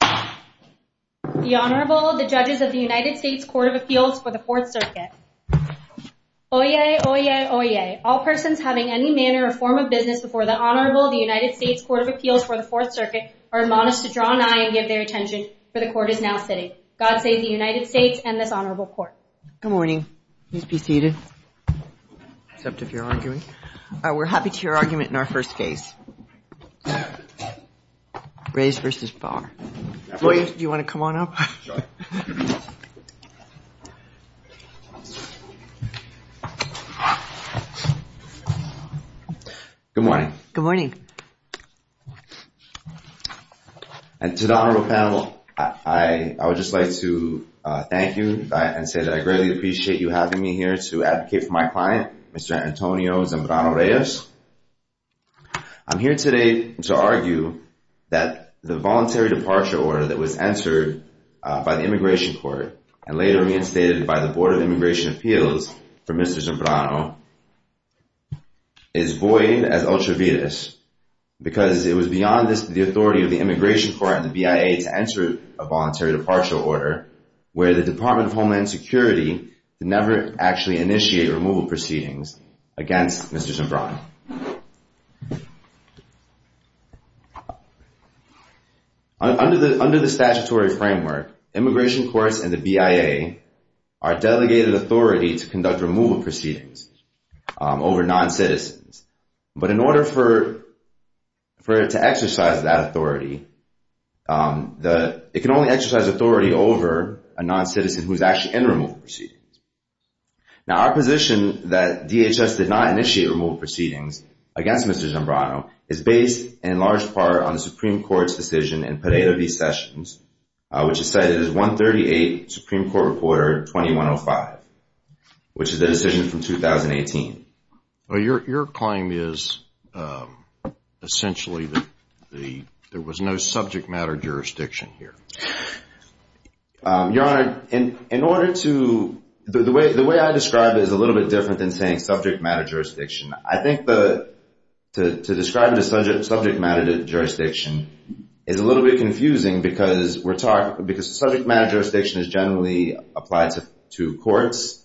The Honorable, the Judges of the United States Court of Appeals for the Fourth Circuit. Oyez, oyez, oyez. All persons having any manner or form of business before the Honorable of the United States Court of Appeals for the Fourth Circuit are admonished to draw an eye and give their attention, for the Court is now sitting. God save the United States and this Honorable Court. Good morning. Please be seated. Except if you're arguing. We're happy to hear your argument in our first case. Reyes versus Barr. Oyez, do you want to come on up? Good morning. Good morning. And to the Honorable panel, I would just like to thank you and say that I greatly appreciate you having me here to advocate for my client, Mr. Antonio Zambrano Reyes. I'm here today to argue that the Voluntary Departure Order that was entered by the Immigration Court and later reinstated by the Board of Immigration Appeals for Mr. Zambrano is void as ultraviolence because it was beyond the authority of the Immigration Court and the BIA to enter a Voluntary Departure Order where the Department of Homeland Security never actually initiated removal proceedings against Mr. Zambrano. Under the statutory framework, Immigration Courts and the BIA are delegated authority to conduct removal proceedings over non-citizens. But in order for it to exercise that authority, it can only exercise authority over a non-citizen who is actually in removal proceedings. Now, our position that DHS did not initiate removal proceedings against Mr. Zambrano is based in large part on the Supreme Court's decision in Potato v. Sessions, which is cited as 138 Supreme Court Reporter 2105, which is a decision from 2018. Your claim is essentially that there was no subject matter jurisdiction here. Your Honor, the way I describe it is a little bit different than saying subject matter jurisdiction. I think to describe it as subject matter jurisdiction is a little bit confusing because subject matter jurisdiction is generally applied to courts,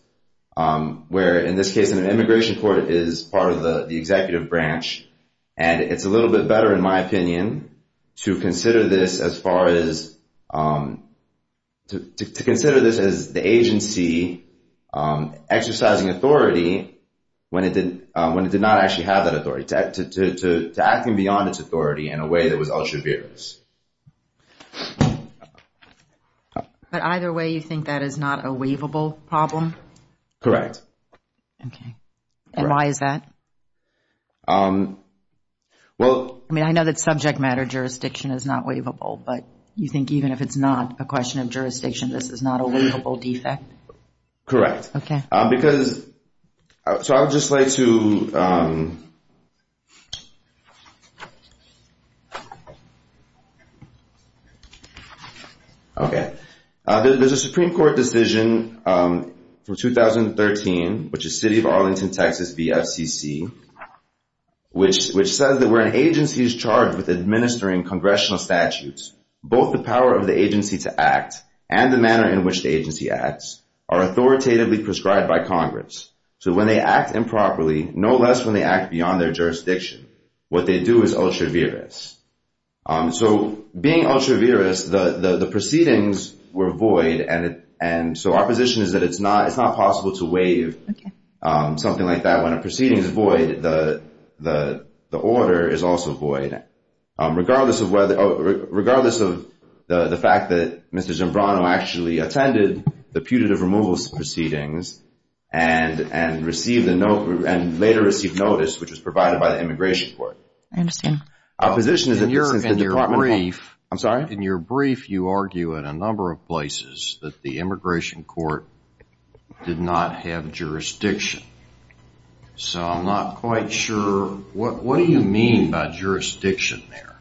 where in this case an immigration court is part of the executive branch. And it's a little bit better, in my opinion, to consider this as the agency exercising authority when it did not actually have that authority, to acting beyond its authority in a way that was ultra-virus. But either way, you think that is not a waivable problem? Correct. Okay. And why is that? I mean, I know that subject matter jurisdiction is not waivable, but you think even if it's not a question of jurisdiction, this is not a waivable defect? Correct. Okay. which says that where an agency is charged with administering congressional statutes, both the power of the agency to act and the manner in which the agency acts are authoritatively prescribed by Congress. So when they act improperly, no less when they act beyond their jurisdiction, what they do is ultra-virus. So being ultra-virus, the proceedings were void, and so our position is that it's not possible to waive something like that when a proceeding is void, the order is also void, regardless of the fact that Mr. Zambrano actually attended the putative removal proceedings and later received notice, which was provided by the immigration court. I understand. Our position is that this is a departmental... In your brief... I'm sorry? In your brief, you argue in a number of places that the immigration court did not have jurisdiction. So I'm not quite sure, what do you mean by jurisdiction there?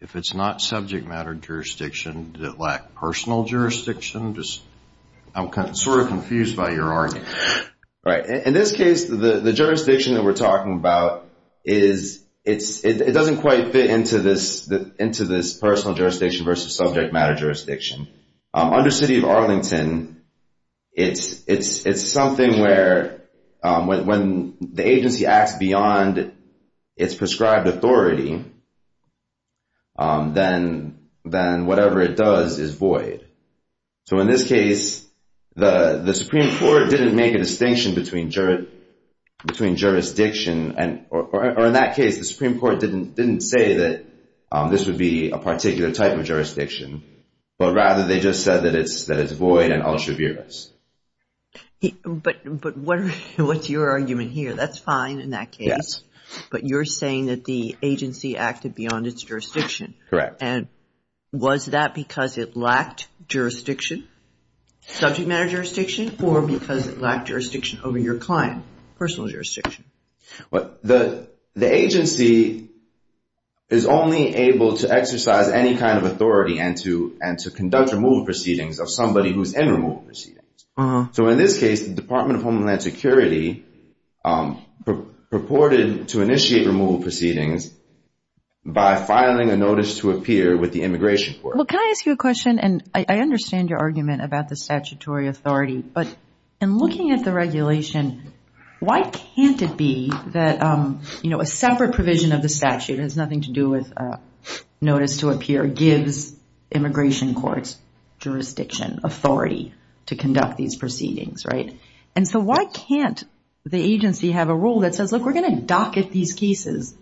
If it's not subject matter jurisdiction, did it lack personal jurisdiction? I'm sort of confused by your argument. In this case, the jurisdiction that we're talking about, it doesn't quite fit into this personal jurisdiction versus subject matter jurisdiction. Under City of Arlington, it's something where when the agency acts beyond its prescribed authority, then whatever it does is void. So in this case, the Supreme Court didn't make a distinction between jurisdiction, or in that case, the Supreme Court didn't say that this would be a particular type of jurisdiction, but rather they just said that it's void and ultra-virus. But what's your argument here? That's fine in that case. Yes. But you're saying that the agency acted beyond its jurisdiction. Correct. And was that because it lacked jurisdiction, subject matter jurisdiction, or because it lacked jurisdiction over your client, personal jurisdiction? The agency is only able to exercise any kind of authority and to conduct removal proceedings of somebody who's in removal proceedings. So in this case, the Department of Homeland Security purported to initiate removal proceedings by filing a notice to appear with the immigration court. Well, can I ask you a question? And I understand your argument about the statutory authority. But in looking at the regulation, why can't it be that a separate provision of the statute has nothing to do with notice to appear gives immigration courts jurisdiction, authority to conduct these proceedings, right? And so why can't the agency have a rule that says, look, we're going to docket these cases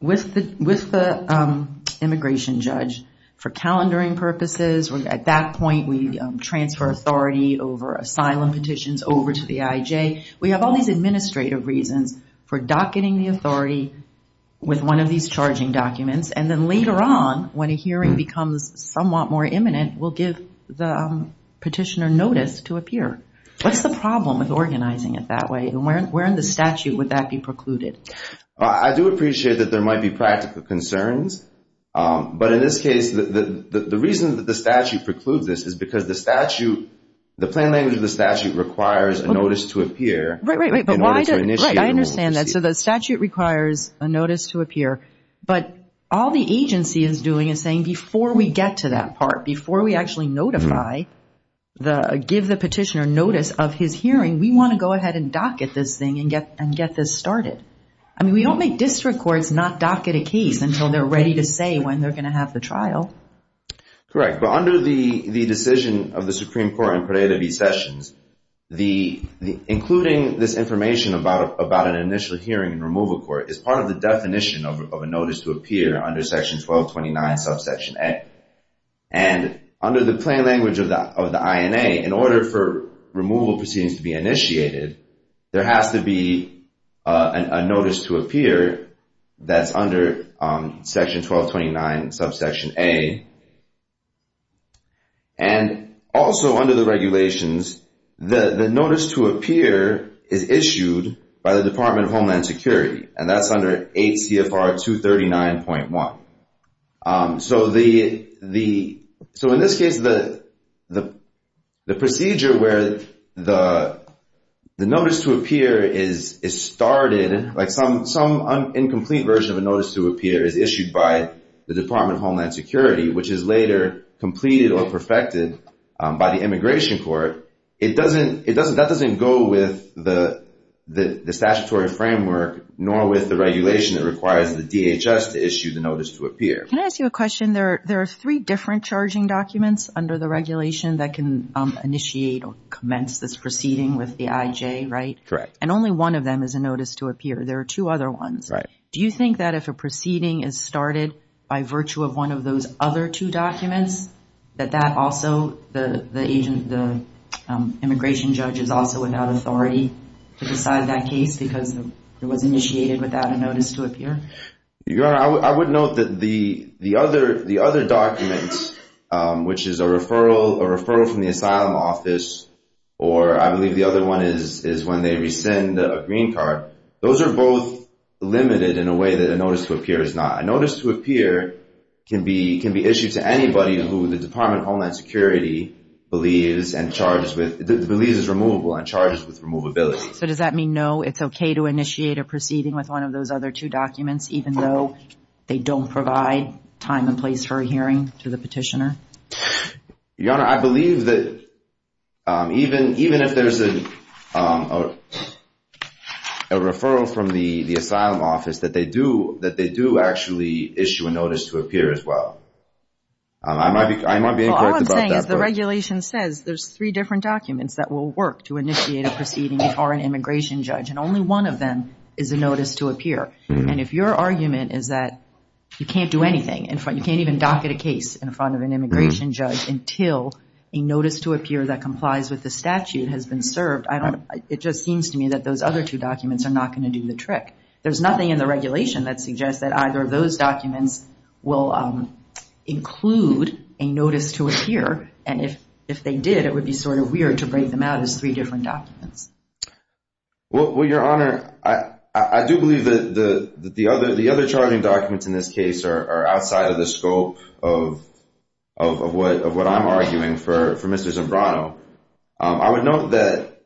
with the immigration judge for calendaring purposes? At that point, we transfer authority over asylum petitions over to the IJ. We have all these administrative reasons for docketing the authority with one of these charging documents. And then later on, when a hearing becomes somewhat more imminent, we'll give the petitioner notice to appear. What's the problem with organizing it that way? And where in the statute would that be precluded? I do appreciate that there might be practical concerns. But in this case, the reason that the statute precludes this is because the statute, the plain language of the statute requires a notice to appear. Right, right, right. I understand that. So the statute requires a notice to appear. But all the agency is doing is saying before we get to that part, before we actually notify, give the petitioner notice of his hearing, we want to go ahead and docket this thing and get this started. I mean, we don't make district courts not docket a case until they're ready to say when they're going to have the trial. Correct. But under the decision of the Supreme Court in Pareto v. Sessions, including this information about an initial hearing in removal court is part of the definition of a notice to appear under Section 1229, Subsection A. And under the plain language of the INA, in order for removal proceedings to be initiated, there has to be a notice to appear that's under Section 1229, Subsection A. And also under the regulations, the notice to appear is issued by the Department of Homeland Security. And that's under 8 CFR 239.1. So in this case, the procedure where the notice to appear is started, like some incomplete version of a notice to appear, is issued by the Department of Homeland Security, which is later completed or perfected by the immigration court. That doesn't go with the statutory framework nor with the regulation that requires the DHS to issue the notice to appear. Can I ask you a question? There are three different charging documents under the regulation that can initiate or commence this proceeding with the IJ, right? Correct. And only one of them is a notice to appear. There are two other ones. Right. Do you think that if a proceeding is started by virtue of one of those other two documents, that that also the immigration judge is also without authority to decide that case because it was initiated without a notice to appear? Your Honor, I would note that the other documents, which is a referral from the asylum office, or I believe the other one is when they rescind a green card, those are both limited in a way that a notice to appear is not. A notice to appear can be issued to anybody who the Department of Homeland Security believes is removable and charges with removability. So does that mean no, it's okay to initiate a proceeding with one of those other two documents, even though they don't provide time and place for a hearing to the petitioner? Your Honor, I believe that even if there's a referral from the asylum office, that they do actually issue a notice to appear as well. I might be incorrect about that. All I'm saying is the regulation says there's three different documents that will work to initiate a proceeding if you are an immigration judge, and only one of them is a notice to appear. And if your argument is that you can't do anything, you can't even docket a case in front of an immigration judge until a notice to appear that complies with the statute has been served, it just seems to me that those other two documents are not going to do the trick. There's nothing in the regulation that suggests that either of those documents will include a notice to appear, and if they did, it would be sort of weird to break them out as three different documents. Well, Your Honor, I do believe that the other charging documents in this case are outside of the scope of what I'm arguing for Mr. Zimbrano. I would note that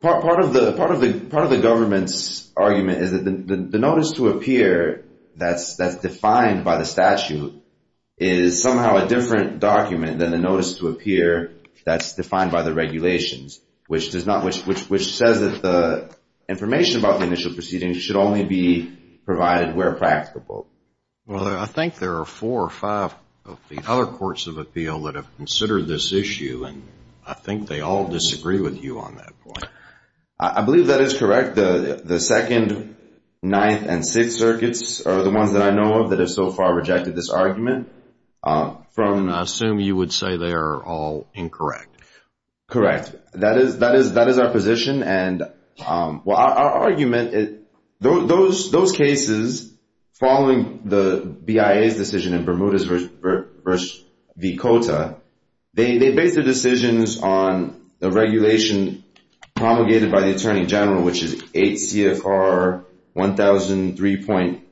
part of the government's argument is that the notice to appear that's defined by the statute is somehow a different document than the notice to appear that's defined by the regulations, which says that the information about the initial proceedings should only be provided where practicable. Well, I think there are four or five of the other courts of appeal that have considered this issue, and I think they all disagree with you on that point. I believe that is correct. The second, ninth, and sixth circuits are the ones that I know of that have so far rejected this argument. I assume you would say they are all incorrect. Correct. That is our position, and our argument is those cases following the BIA's decision in Bermuda v. Cota, they based their decisions on the regulation promulgated by the Attorney General, which is 8 CFR 1003.18,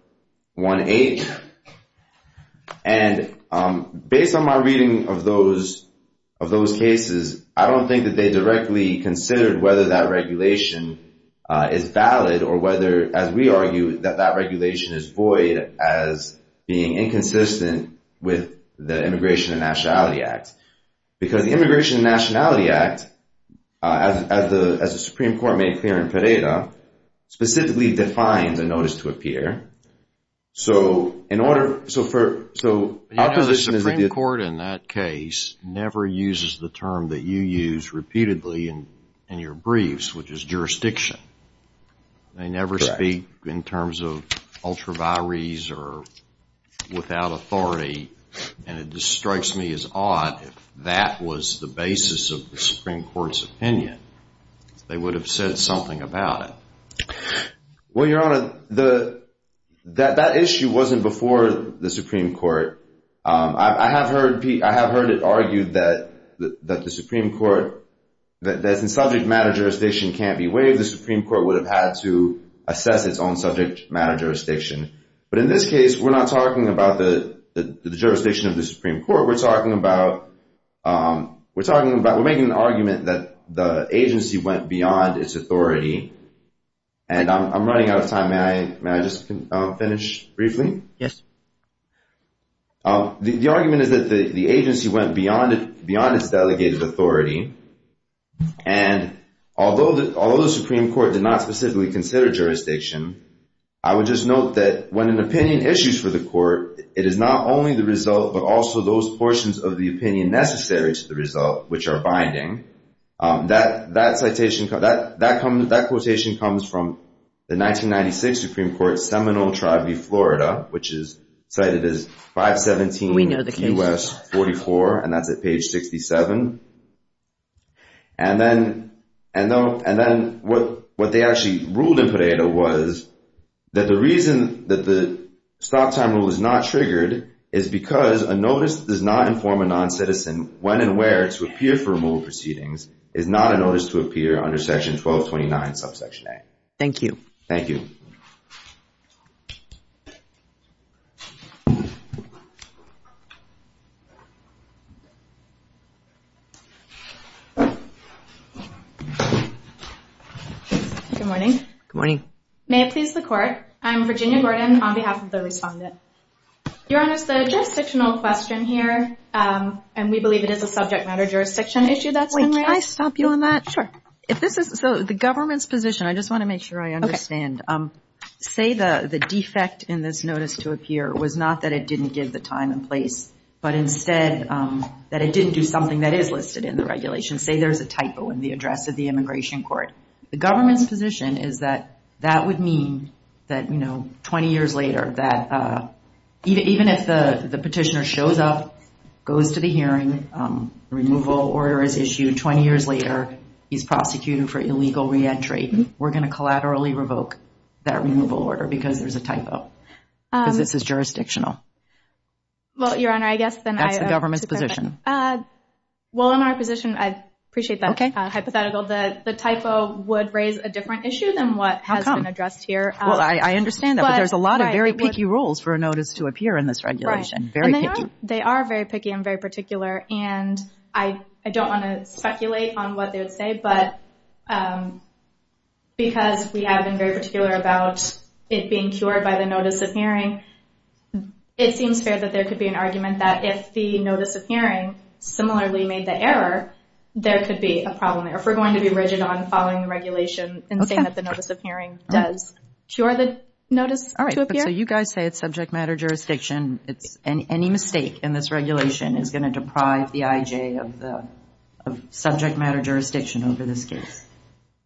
and based on my reading of those cases, I don't think that they directly considered whether that regulation is valid or whether, as we argue, that that regulation is void as being inconsistent with the Immigration and Nationality Act. Because the Immigration and Nationality Act, as the Supreme Court made clear in Pereira, specifically defines a notice to appear. So in order... So the Supreme Court in that case never uses the term that you use repeatedly in your briefs, which is jurisdiction. Correct. They never speak in terms of ultra vires or without authority, and it just strikes me as odd. If that was the basis of the Supreme Court's opinion, they would have said something about it. Well, Your Honor, that issue wasn't before the Supreme Court. I have heard it argued that the Supreme Court... That since subject matter jurisdiction can't be waived, the Supreme Court would have had to assess its own subject matter jurisdiction. But in this case, we're not talking about the jurisdiction of the Supreme Court. We're talking about... We're making an argument that the agency went beyond its authority, and I'm running out of time. May I just finish briefly? Yes. The argument is that the agency went beyond its delegated authority, and although the Supreme Court did not specifically consider jurisdiction, I would just note that when an opinion issues for the court, it is not only the result, but also those portions of the opinion necessary to the result, which are binding. That quotation comes from the 1996 Supreme Court, Seminole Tribe v. Florida, which is cited as 517 U.S. 44, and that's at page 67. And then what they actually ruled in Pareto was that the reason that the stop time rule is not triggered is because a notice that does not inform a noncitizen when and where to appear for removal proceedings is not a notice to appear under Section 1229, Subsection A. Thank you. Thank you. Good morning. Good morning. May it please the Court, I'm Virginia Gordon on behalf of the respondent. Your Honor, the jurisdictional question here, and we believe it is a subject matter jurisdiction issue that's been raised. Wait, can I stop you on that? Sure. So the government's position, I just want to make sure I understand. Say the defect in this notice to appear was not that it didn't give the time and place, but instead that it didn't do something that is listed in the regulation. Say there's a typo in the address of the immigration court. The government's position is that that would mean that, you know, 20 years later, that even if the petitioner shows up, goes to the hearing, removal order is issued, 20 years later he's prosecuted for illegal re-entry, we're going to collaterally revoke that removal order because there's a typo, because this is jurisdictional. Well, Your Honor, I guess then I... That's the government's position. Well, in our position, I appreciate that hypothetical. The typo would raise a different issue than what has been addressed here. Well, I understand that, but there's a lot of very picky rules for a notice to appear in this regulation. Very picky. They are very picky and very particular, and I don't want to speculate on what they would say, but because we have been very particular about it being cured by the notice of hearing, it seems fair that there could be an argument that if the notice of hearing similarly made the error, there could be a problem there. We're going to be rigid on following the regulation and saying that the notice of hearing does cure the notice to appear. All right. So you guys say it's subject matter jurisdiction. Any mistake in this regulation is going to deprive the IJ of subject matter jurisdiction over this case.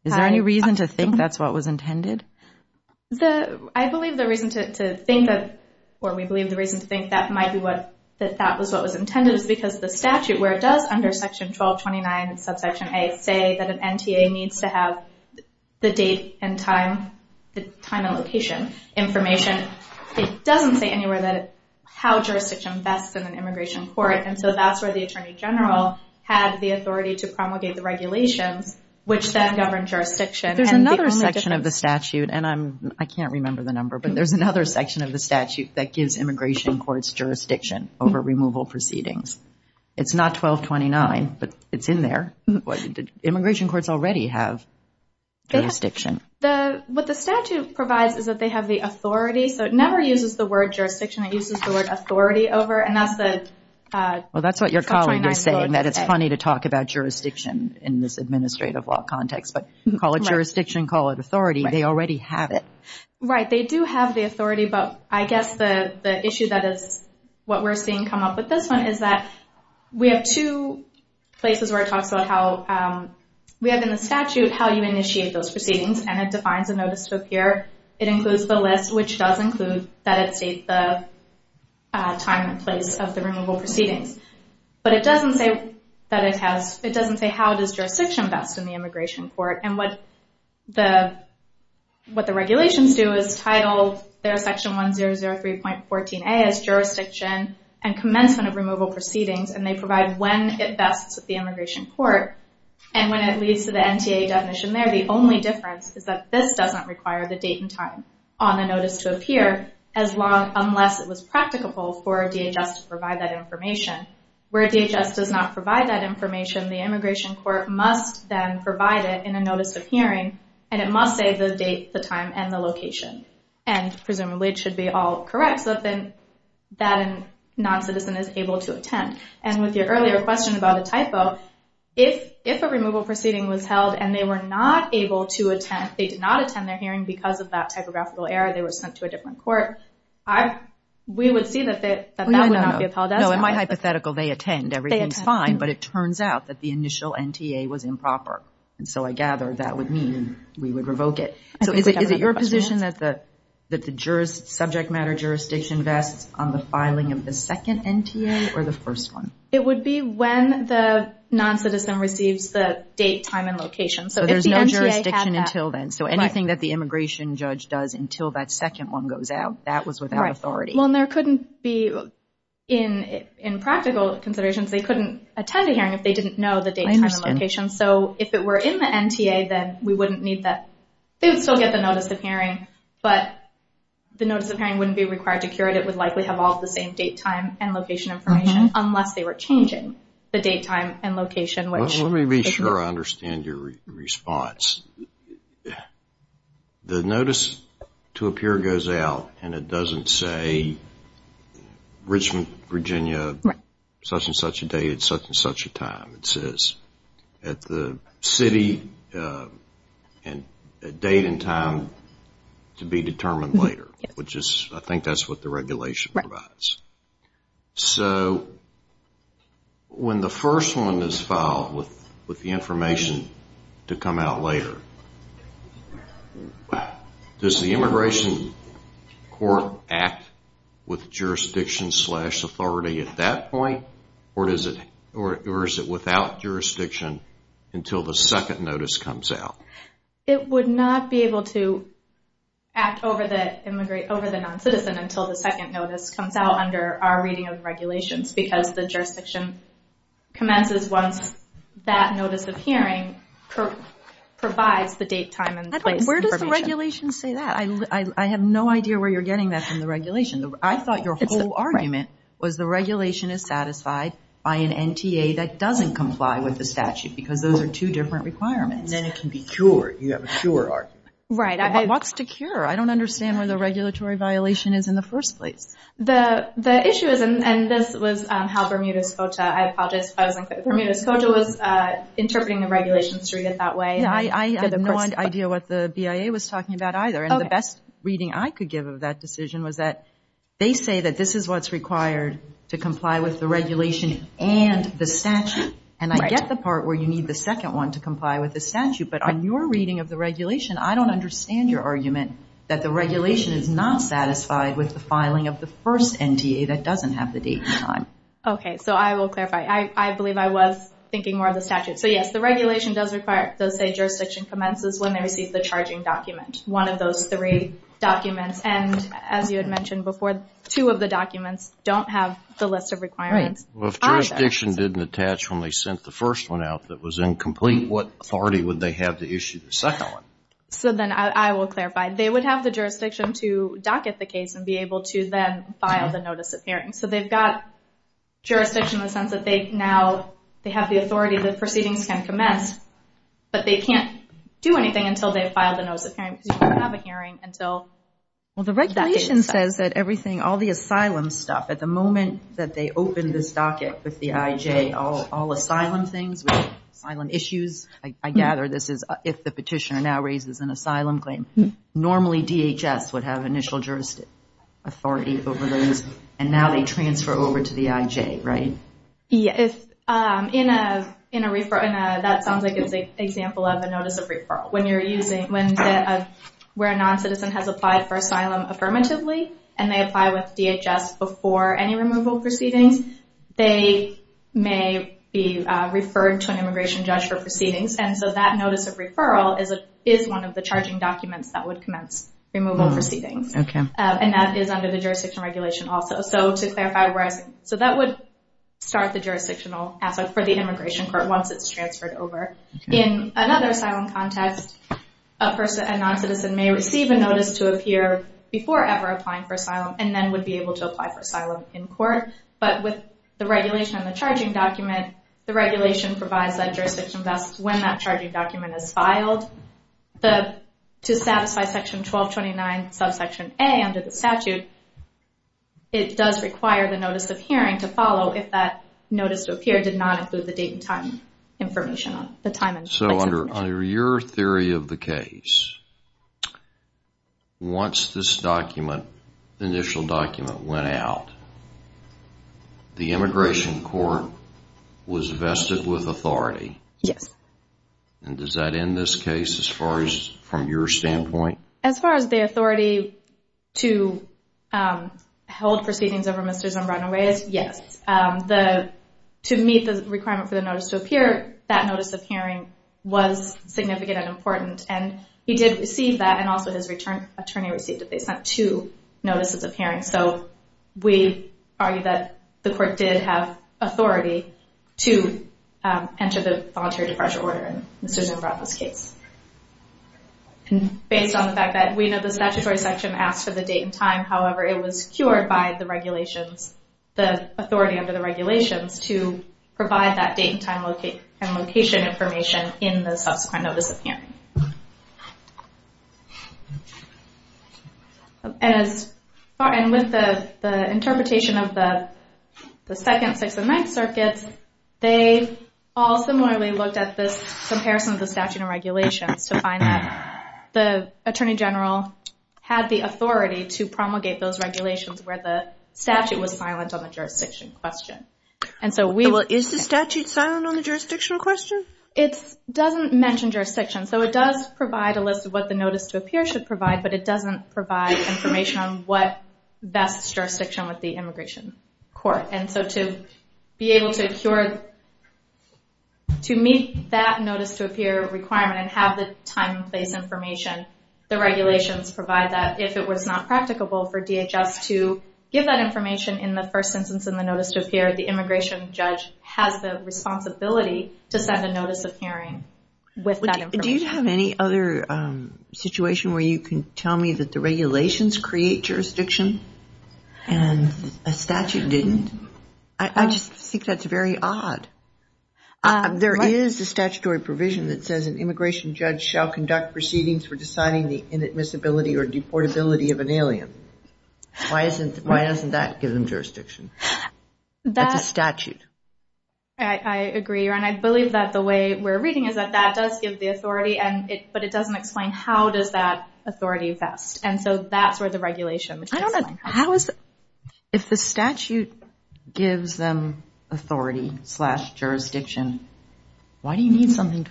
Is there any reason to think that's what was intended? I believe the reason to think that, or we believe the reason to think that that was what was intended is because the statute, where it does under Section 1229, subsection A, say that an NTA needs to have the date and time, the time and location information, it doesn't say anywhere how jurisdiction vests in an immigration court, and so that's where the Attorney General had the authority to promulgate the regulations, which then governed jurisdiction. There's another section of the statute, and I can't remember the number, but there's another section of the statute that gives immigration courts jurisdiction over removal proceedings. It's not 1229, but it's in there. Immigration courts already have jurisdiction. What the statute provides is that they have the authority, so it never uses the word jurisdiction. It uses the word authority over it, and that's the 1229 vote. Well, that's what your colleague is saying, that it's funny to talk about jurisdiction in this administrative law context, but call it jurisdiction, call it authority. They already have it. Right. They do have the authority, but I guess the issue that is what we're seeing come up with this one is that we have two places where it talks about how we have in the statute how you initiate those proceedings, and it defines a notice to appear. It includes the list, which does include that it states the time and place of the removal proceedings, but it doesn't say how does jurisdiction vest in the immigration court, and what the regulations do is title their section 1003.14a as jurisdiction and commencement of removal proceedings, and they provide when it vests with the immigration court, and when it leads to the NTA definition there, the only difference is that this doesn't require the date and time on a notice to appear unless it was practicable for a DHS to provide that information. Where a DHS does not provide that information, the immigration court must then provide it in a notice of hearing, and it must say the date, the time, and the location, and presumably it should be all correct so that a noncitizen is able to attend. And with your earlier question about a typo, if a removal proceeding was held and they were not able to attend, they did not attend their hearing because of that typographical error, they were sent to a different court, we would see that that would not be upheld. No, in my hypothetical they attend. But it turns out that the initial NTA was improper, and so I gather that would mean we would revoke it. So is it your position that the subject matter jurisdiction vests on the filing of the second NTA or the first one? It would be when the noncitizen receives the date, time, and location. So there's no jurisdiction until then, so anything that the immigration judge does until that second one goes out, that was without authority. Well, and there couldn't be, in practical considerations, they couldn't attend a hearing if they didn't know the date, time, and location. So if it were in the NTA, then we wouldn't need that. They would still get the notice of hearing, but the notice of hearing wouldn't be required to curate. It would likely have all the same date, time, and location information unless they were changing the date, time, and location. Let me be sure I understand your response. The notice to appear goes out, and it doesn't say Richmond, Virginia, such and such a date at such and such a time. It says at the city and date and time to be determined later, which I think that's what the regulation provides. So when the first one is filed with the information to come out later, does the immigration court act with jurisdiction slash authority at that point, or is it without jurisdiction until the second notice comes out? It would not be able to act over the non-citizen until the second notice comes out under our reading of regulations because the jurisdiction commences once that notice of hearing provides the date, time, and place information. Where does the regulation say that? I have no idea where you're getting that from the regulation. I thought your whole argument was the regulation is satisfied by an NTA that doesn't comply with the statute because those are two different requirements. Then it can be cured. You have a cure argument. Right. What's the cure? I don't understand where the regulatory violation is in the first place. The issue is, and this was how Bermuda Scotia, I apologize if I wasn't clear, Bermuda Scotia was interpreting the regulations to read it that way. I had no idea what the BIA was talking about either, and the best reading I could give of that decision was that they say that this is what's required to comply with the regulation and the statute, and I get the part where you need the second one to comply with the statute, but on your reading of the regulation, I don't understand your argument that the regulation is not satisfied with the filing of the first NTA that doesn't have the date and time. Okay, so I will clarify. I believe I was thinking more of the statute. So, yes, the regulation does say jurisdiction commences when they receive the charging document, one of those three documents, and as you had mentioned before, two of the documents don't have the list of requirements either. If jurisdiction didn't attach when they sent the first one out that was So then I will clarify. They would have the jurisdiction to docket the case and be able to then file the notice of hearing. So they've got jurisdiction in the sense that they now have the authority that proceedings can commence, but they can't do anything until they file the notice of hearing because you can't have a hearing until that date is set. Well, the regulation says that everything, all the asylum stuff, at the moment that they open this docket with the IJ, all asylum things, asylum issues, I gather this is if the petitioner now raises an asylum claim, normally DHS would have initial jurisdiction authority over those, and now they transfer over to the IJ, right? Yes. In a referral, that sounds like it's an example of a notice of referral. When you're using, where a non-citizen has applied for asylum affirmatively and they apply with DHS before any removal proceedings, they may be referred to an immigration judge for proceedings, and so that notice of referral is one of the charging documents that would commence removal proceedings, and that is under the jurisdiction regulation also. So to clarify, so that would start the jurisdictional aspect for the immigration court once it's transferred over. In another asylum context, a non-citizen may receive a notice to appear before ever applying for asylum and then would be able to apply for asylum in court, but with the regulation on the charging document, the regulation provides that jurisdiction vests when that charging document is filed. To satisfy section 1229 subsection A under the statute, it does require the notice of hearing to follow if that notice to appear did not include the date and time information, the time and place information. So under your theory of the case, once this document, initial document went out, the immigration court was vested with authority. Yes. And does that end this case as far as from your standpoint? As far as the authority to hold proceedings over Mr. Zambrano-Reyes, yes. To meet the requirement for the notice to appear, that notice of hearing was significant and important, and he did receive that, and also his attorney received it. They sent two notices of hearing, so we argue that the court did have authority to enter the voluntary departure order in Mr. Zambrano's case. Based on the fact that we know the statutory section asked for the date and time, however, it was cured by the regulations, the authority under the regulations to provide that date and time and location information in the subsequent notice of hearing. And with the interpretation of the second, sixth, and ninth circuits, they all similarly looked at this comparison of the statute and regulations to find that the attorney general had the authority to promulgate those regulations where the statute was silent on the jurisdiction question. Is the statute silent on the jurisdiction question? It doesn't mention jurisdiction, so it does provide a list of what the notice to appear should provide, but it doesn't provide information on what vests jurisdiction with the immigration court. And so to be able to meet that notice to appear requirement and have the time and place information, the regulations provide that. If it was not practicable for DHS to give that information in the first instance in the notice to appear, the immigration judge has the responsibility to send a notice of hearing with that information. Do you have any other situation where you can tell me that the regulations create jurisdiction and a statute didn't? I just think that's very odd. There is a statutory provision that says an immigration judge shall conduct proceedings for deciding the inadmissibility or deportability of an alien. Why doesn't that give them jurisdiction? That's a statute. I agree, and I believe that the way we're reading is that that does give the authority, but it doesn't explain how does that authority vest. And so that's where the regulation is. If the statute gives them authority slash jurisdiction, why isn't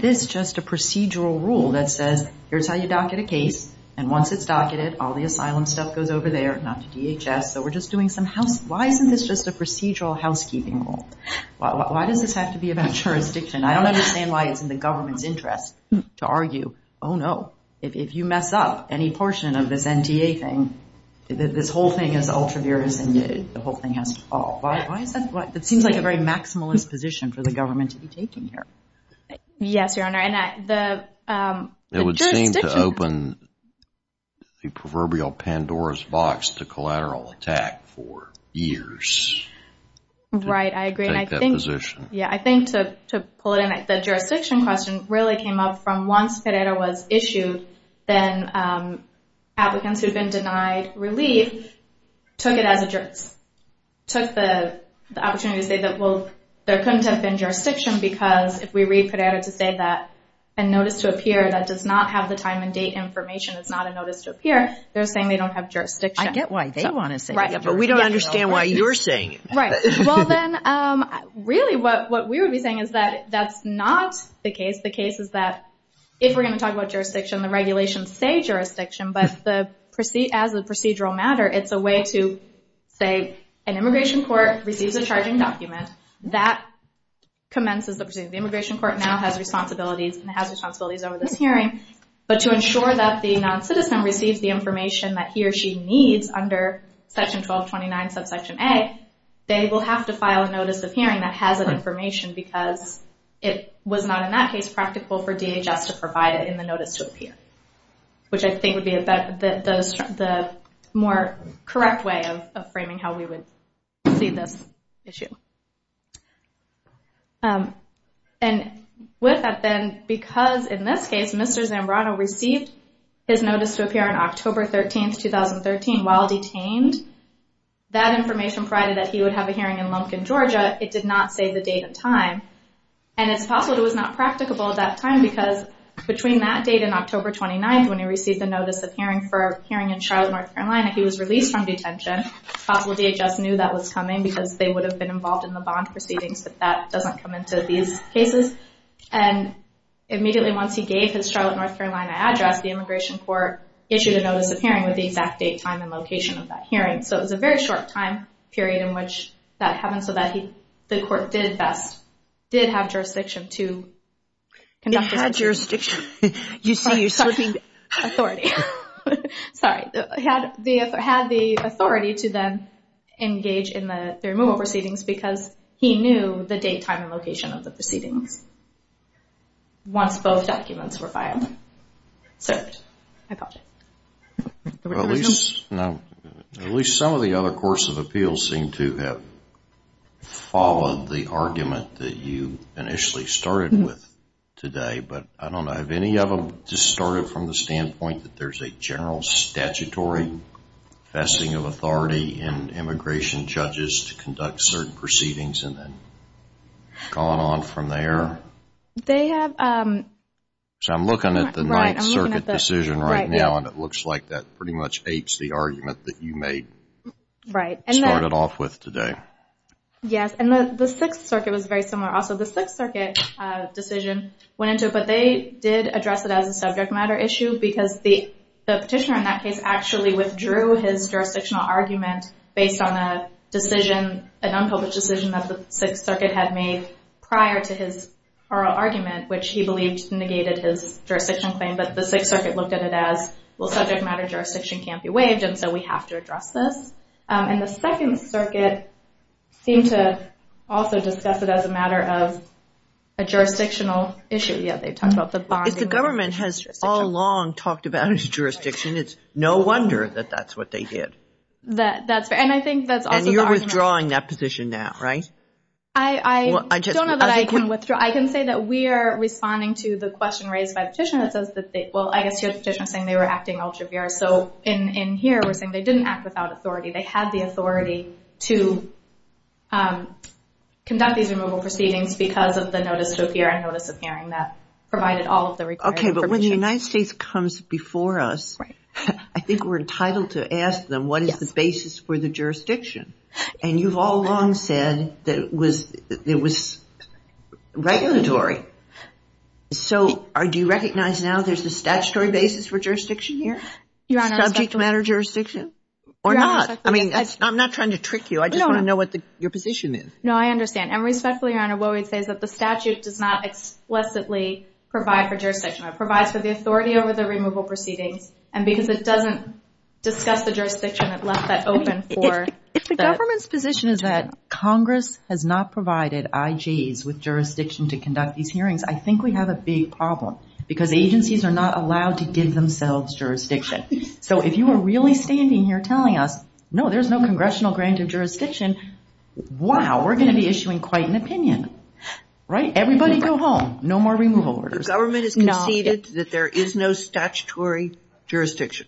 this just a procedural rule that says, here's how you docket a case, and once it's docketed, all the asylum stuff goes over there, not to DHS, so we're just doing some housekeeping. Why isn't this just a procedural housekeeping rule? Why does this have to be about jurisdiction? I don't understand why it's in the government's interest to argue, oh, no, if you mess up any portion of this NTA thing, this whole thing is ultra-virus and the whole thing has to fall. That seems like a very maximalist position for the government to be taking here. Yes, Your Honor. It would seem to open the proverbial Pandora's box to collateral attack for years. Right, I agree. I think to pull it in, the jurisdiction question really came up from once FEDERA was issued, then applicants who had been denied relief took it as a juris. Took the opportunity to say that there couldn't have been jurisdiction because if we read FEDERA to say that a notice to appear that does not have the time and date information, it's not a notice to appear, they're saying they don't have jurisdiction. I get why they want to say that, but we don't understand why you're saying it. Right, well then, really what we would be saying is that that's not the case. The case is that if we're going to talk about jurisdiction, the regulations say jurisdiction, but as a procedural matter, it's a way to say an immigration court receives a charging document. That commences the proceeding. The immigration court now has responsibilities and has responsibilities over this hearing, but to ensure that the non-citizen receives the information that he or she needs under section 1229 subsection A, they will have to file a notice of hearing that has that information because it was not in that case practical for DHS to provide it in the notice to appear, which I think would be the more correct way of framing how we would see this issue. With that then, because in this case Mr. Zambrano received his notice to appear on October 13, 2013 while detained, that information provided that he would have a hearing in Lumpkin, Georgia, it did not say the date and time, and it's possible it was not practicable at that time because between that date and October 29th when he received the notice of hearing for a hearing in Charlotte, North Carolina, he was released from detention. It's possible DHS knew that was coming because they would have been involved in the bond proceedings, but that doesn't come into these cases. Immediately once he gave his Charlotte, North Carolina address, the immigration court issued a notice of hearing with the exact date, time, and location of that hearing. It was a very short time period in which that happened so that the court did have jurisdiction to conduct this hearing. It had jurisdiction. You see you're slipping. Authority. Sorry. It had the authority to then engage in the removal proceedings because he knew the date, time, and location of the proceedings once both documents were filed, served. I apologize. At least some of the other course of appeals seem to have followed the argument that you initially started with today, but I don't know. Have any of them just started from the standpoint that there's a general statutory vesting of authority in immigration judges to conduct certain proceedings and then gone on from there? They have. I'm looking at the Ninth Circuit decision right now, and it looks like that pretty much ates the argument that you made. Right. Started off with today. Yes, and the Sixth Circuit was very similar also. The Sixth Circuit decision went into it, but they did address it as a subject matter issue because the petitioner in that case actually withdrew his jurisdictional argument based on a decision, an unpublished decision, that the Sixth Circuit had made prior to his oral argument, which he believed negated his jurisdictional claim, but the Sixth Circuit looked at it as, well, subject matter jurisdiction can't be waived, and so we have to address this. And the Second Circuit seemed to also discuss it as a matter of a jurisdictional issue. Yes, they talked about the bonding. If the government has all along talked about its jurisdiction, it's no wonder that that's what they did. That's right, and I think that's also the argument. And you're withdrawing that position now, right? I don't know that I can withdraw. I can say that we are responding to the question raised by the petitioner that says that they, well, I guess here the petitioner is saying they were acting altruistic, so in here we're saying they didn't act without authority. They had the authority to conduct these removal proceedings because of the notice to appear and notice of hearing that provided all of the required information. Okay, but when the United States comes before us, I think we're entitled to ask them, what is the basis for the jurisdiction? And you've all along said that it was regulatory. So do you recognize now there's a statutory basis for jurisdiction here? Subject matter jurisdiction or not? I mean, I'm not trying to trick you. I just want to know what your position is. No, I understand. And respectfully, Your Honor, what we'd say is that the statute does not explicitly provide for jurisdiction. It provides for the authority over the removal proceedings, and because it doesn't discuss the jurisdiction, it left that open for the ---- If the government's position is that Congress has not provided IGs with jurisdiction to conduct these hearings, I think we have a big problem because agencies are not allowed to give themselves jurisdiction. So if you are really standing here telling us, no, there's no congressional grant of jurisdiction, wow, we're going to be issuing quite an opinion. Right? Everybody go home. No more removal orders. The government has conceded that there is no statutory jurisdiction.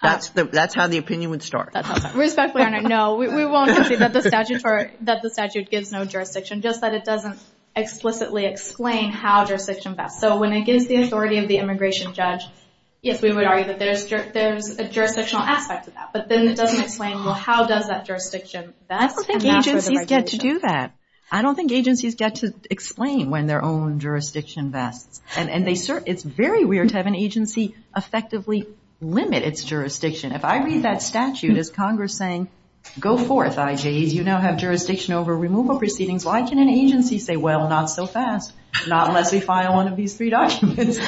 That's how the opinion would start. Respectfully, Your Honor, no. We won't concede that the statute gives no jurisdiction, just that it doesn't explicitly explain how jurisdiction works. So when it gives the authority of the immigration judge, yes, we would argue that there's a jurisdictional aspect to that. But then it doesn't explain, well, how does that jurisdiction ---- I don't think agencies get to do that. I don't think agencies get to explain when their own jurisdiction vests. And it's very weird to have an agency effectively limit its jurisdiction. If I read that statute as Congress saying, go forth IGs, you now have jurisdiction over removal proceedings, why can an agency say, well, not so fast, not unless we file one of these three documents.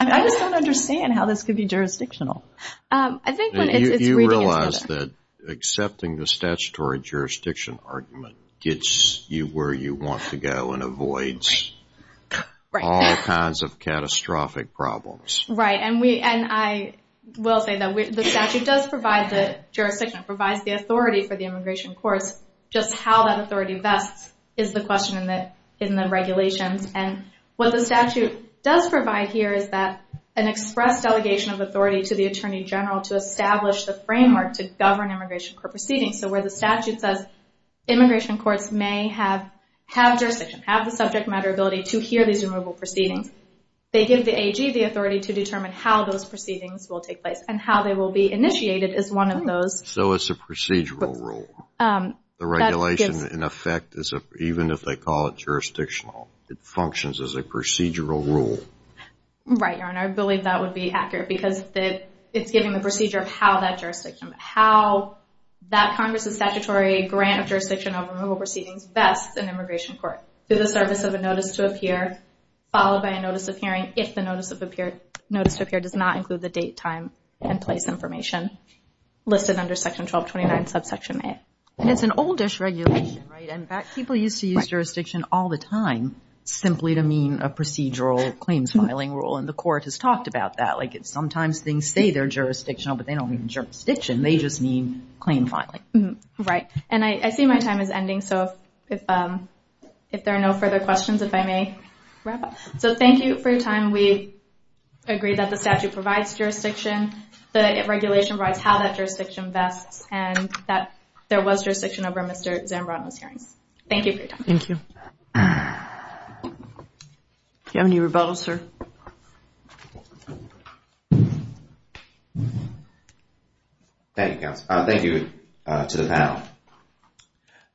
I just don't understand how this could be jurisdictional. You realize that accepting the statutory jurisdiction argument gets you where you want to go and avoids all kinds of catastrophic problems. Right. And I will say that the statute does provide the jurisdiction, provides the authority for the immigration courts. Just how that authority vests is the question in the regulations. And what the statute does provide here is that an express delegation of authority to the Attorney General to establish the framework to govern immigration court proceedings. So where the statute says immigration courts may have jurisdiction, have the subject matter ability to hear these removal proceedings, they give the AG the authority to determine how those proceedings will take place and how they will be initiated is one of those. So it's a procedural rule. The regulation, in effect, even if they call it jurisdictional, it functions as a procedural rule. Right, Your Honor. I believe that would be accurate because it's giving the procedure of how that jurisdiction, how that Congress' statutory grant of jurisdiction over removal proceedings vests an immigration court. Through the service of a notice to appear, followed by a notice of hearing if the notice to appear does not include the date, time, and place information listed under Section 1229, subsection A. And it's an old-ish regulation, right? In fact, people used to use jurisdiction all the time simply to mean a procedural claims filing rule, and the court has talked about that. Like sometimes things say they're jurisdictional, but they don't mean jurisdiction. They just mean claim filing. Right. And I see my time is ending, so if there are no further questions, if I may wrap up. So thank you for your time. And we agree that the statute provides jurisdiction, the regulation provides how that jurisdiction vests, and that there was jurisdiction over Mr. Zambrano's hearings. Thank you for your time. Do you have any rebuttals, sir? Thank you, counsel. Thank you to the panel.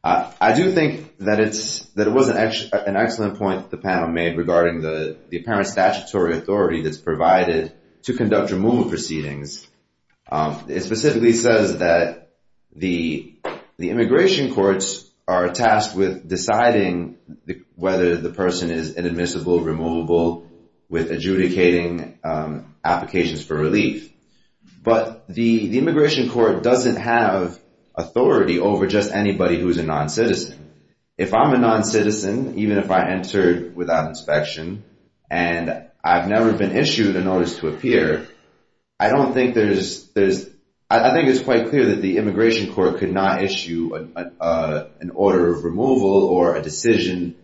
I do think that it was an excellent point the panel made regarding the apparent statutory authority that's provided to conduct removal proceedings. It specifically says that the immigration courts are tasked with deciding whether the person is inadmissible, removable, with adjudicating applications for relief. But the immigration court doesn't have authority over just anybody who is a non-citizen. If I'm a non-citizen, even if I entered without inspection, and I've never been issued a notice to appear, I don't think there's – I think it's quite clear that the immigration court could not issue an order of removal or a decision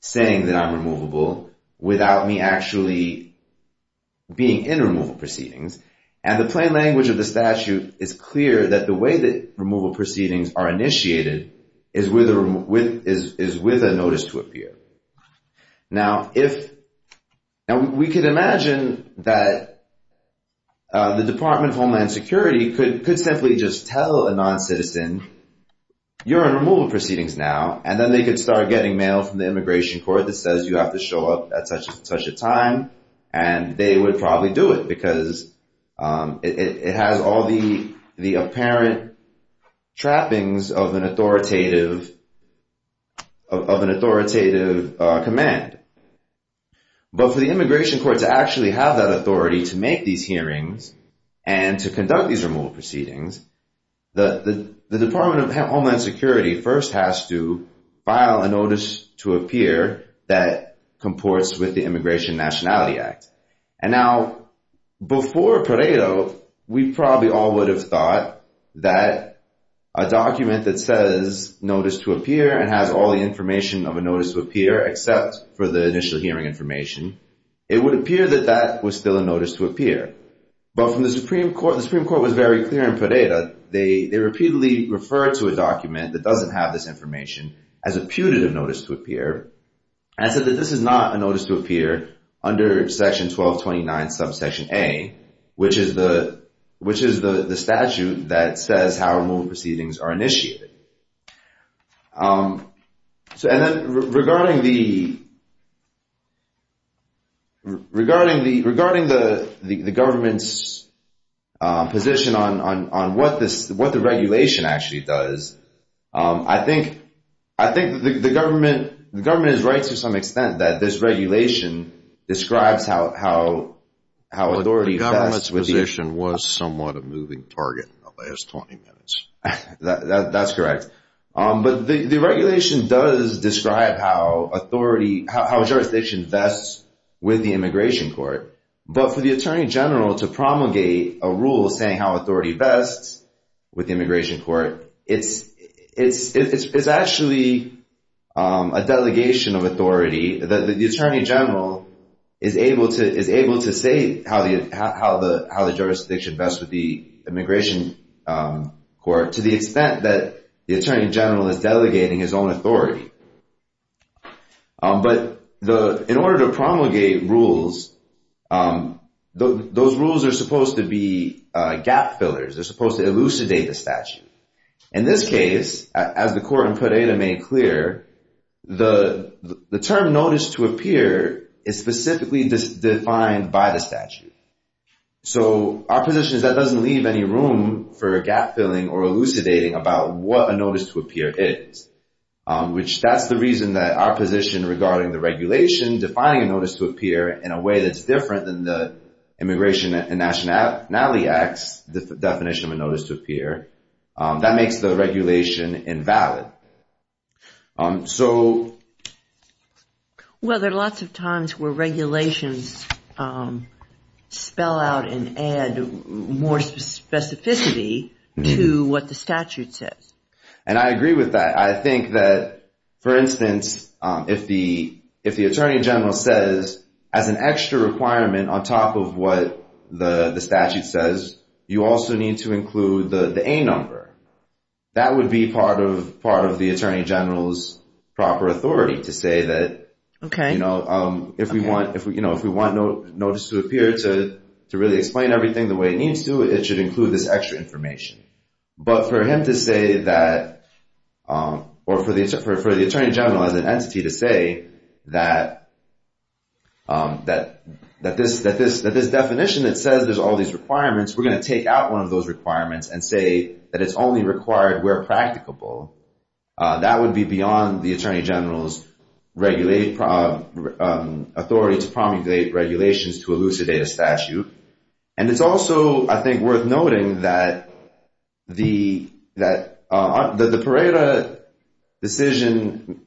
saying that I'm removable without me actually being in removal proceedings. And the plain language of the statute is clear that the way that removal is with a notice to appear. Now, we can imagine that the Department of Homeland Security could simply just tell a non-citizen, you're in removal proceedings now, and then they could start getting mail from the immigration court that says you have to show up at such and such a time, and they would probably do it because it has all the apparent trappings of an authoritative command. But for the immigration court to actually have that authority to make these hearings and to conduct these removal proceedings, the Department of Homeland Security first has to file a notice to appear that comports with the Immigration Nationality Act. And now, before Pareto, we probably all would have thought that a document that says notice to appear and has all the information of a notice to appear except for the initial hearing information, it would appear that that was still a notice to appear. But from the Supreme Court, the Supreme Court was very clear in Pareto. They repeatedly referred to a document that doesn't have this information as a putative notice to appear and said that this is not a notice to appear under Section 1229, Subsection A, which is the statute that says how these removal proceedings are initiated. And then regarding the government's position on what the regulation actually does, I think the government is right to some extent that this regulation describes how authority vests with the immigration court. But the government's position was somewhat a moving target in the last 20 minutes. That's correct. But the regulation does describe how jurisdiction vests with the immigration court. But for the Attorney General to promulgate a rule saying how authority vests with the immigration court, it's actually a delegation of authority that the Attorney General is able to say how the jurisdiction vests with the immigration court to the extent that the Attorney General is delegating his own authority. But in order to promulgate rules, those rules are supposed to be gap fillers. They're supposed to elucidate the statute. In this case, as the court in Pareto made clear, the term notice to appear is specifically defined by the statute. So our position is that doesn't leave any room for gap filling or elucidating about what a notice to appear is, which that's the reason that our position regarding the regulation defining a notice to appear in a way that's different than the Immigration and Nationality Act's definition of a notice to appear. That makes the regulation invalid. So... Well, there are lots of times where regulations spell out and add more specificity to what the statute says. And I agree with that. I think that, for instance, if the Attorney General says as an extra requirement on top of what the statute says, you also need to include the A number. That would be part of the Attorney General's proper authority to say that if we want notice to appear to really explain everything the way it needs to, it should include this extra information. But for him to say that, or for the Attorney General as an entity to say that this definition that says there's all these requirements, we're going to take out one of those requirements and say that it's only required where practicable, that would be beyond the Attorney General's authority to promulgate regulations to elucidate a statute. And it's also, I think, worth noting that the Parera decision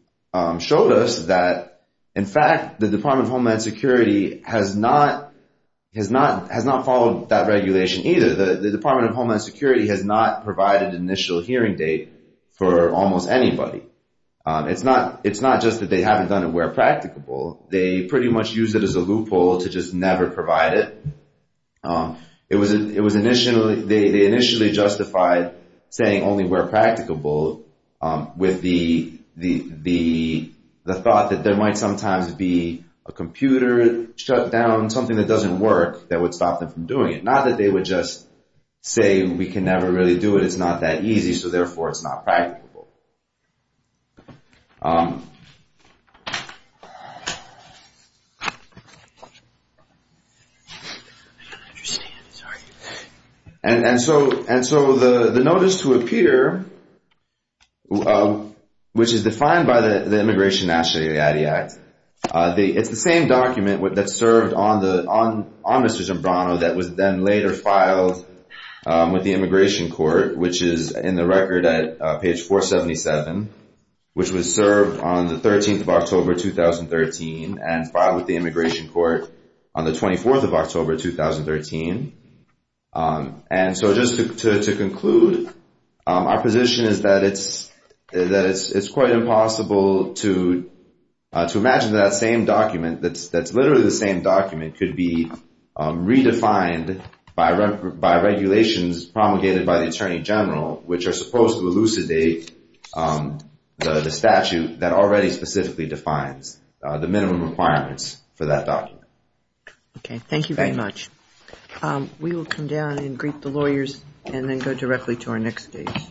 showed us that, in fact, the Department of Homeland Security has not followed that regulation either. The Department of Homeland Security has not provided an initial hearing date for almost anybody. It's not just that they haven't done it where practicable. They pretty much used it as a loophole to just never provide it. They initially justified saying only where practicable with the thought that there might sometimes be a computer shutdown, something that doesn't work, that would say we can never really do it, it's not that easy, so therefore it's not practicable. And so the notice to appear, which is defined by the Immigration and National Aid Act, it's the same document that served on Mr. Giambrano that was then later filed with the Immigration Court, which is in the record at page 477, which was served on the 13th of October 2013 and filed with the Immigration Court on the 24th of October 2013. And so just to conclude, our position is that it's quite impossible to imagine that same document that's literally the same document could be redefined by regulations promulgated by the Attorney General, which are supposed to elucidate the statute that already specifically defines the minimum requirements for that document. Okay, thank you very much. We will come down and greet the lawyers and then go directly to our next guest. Thank you.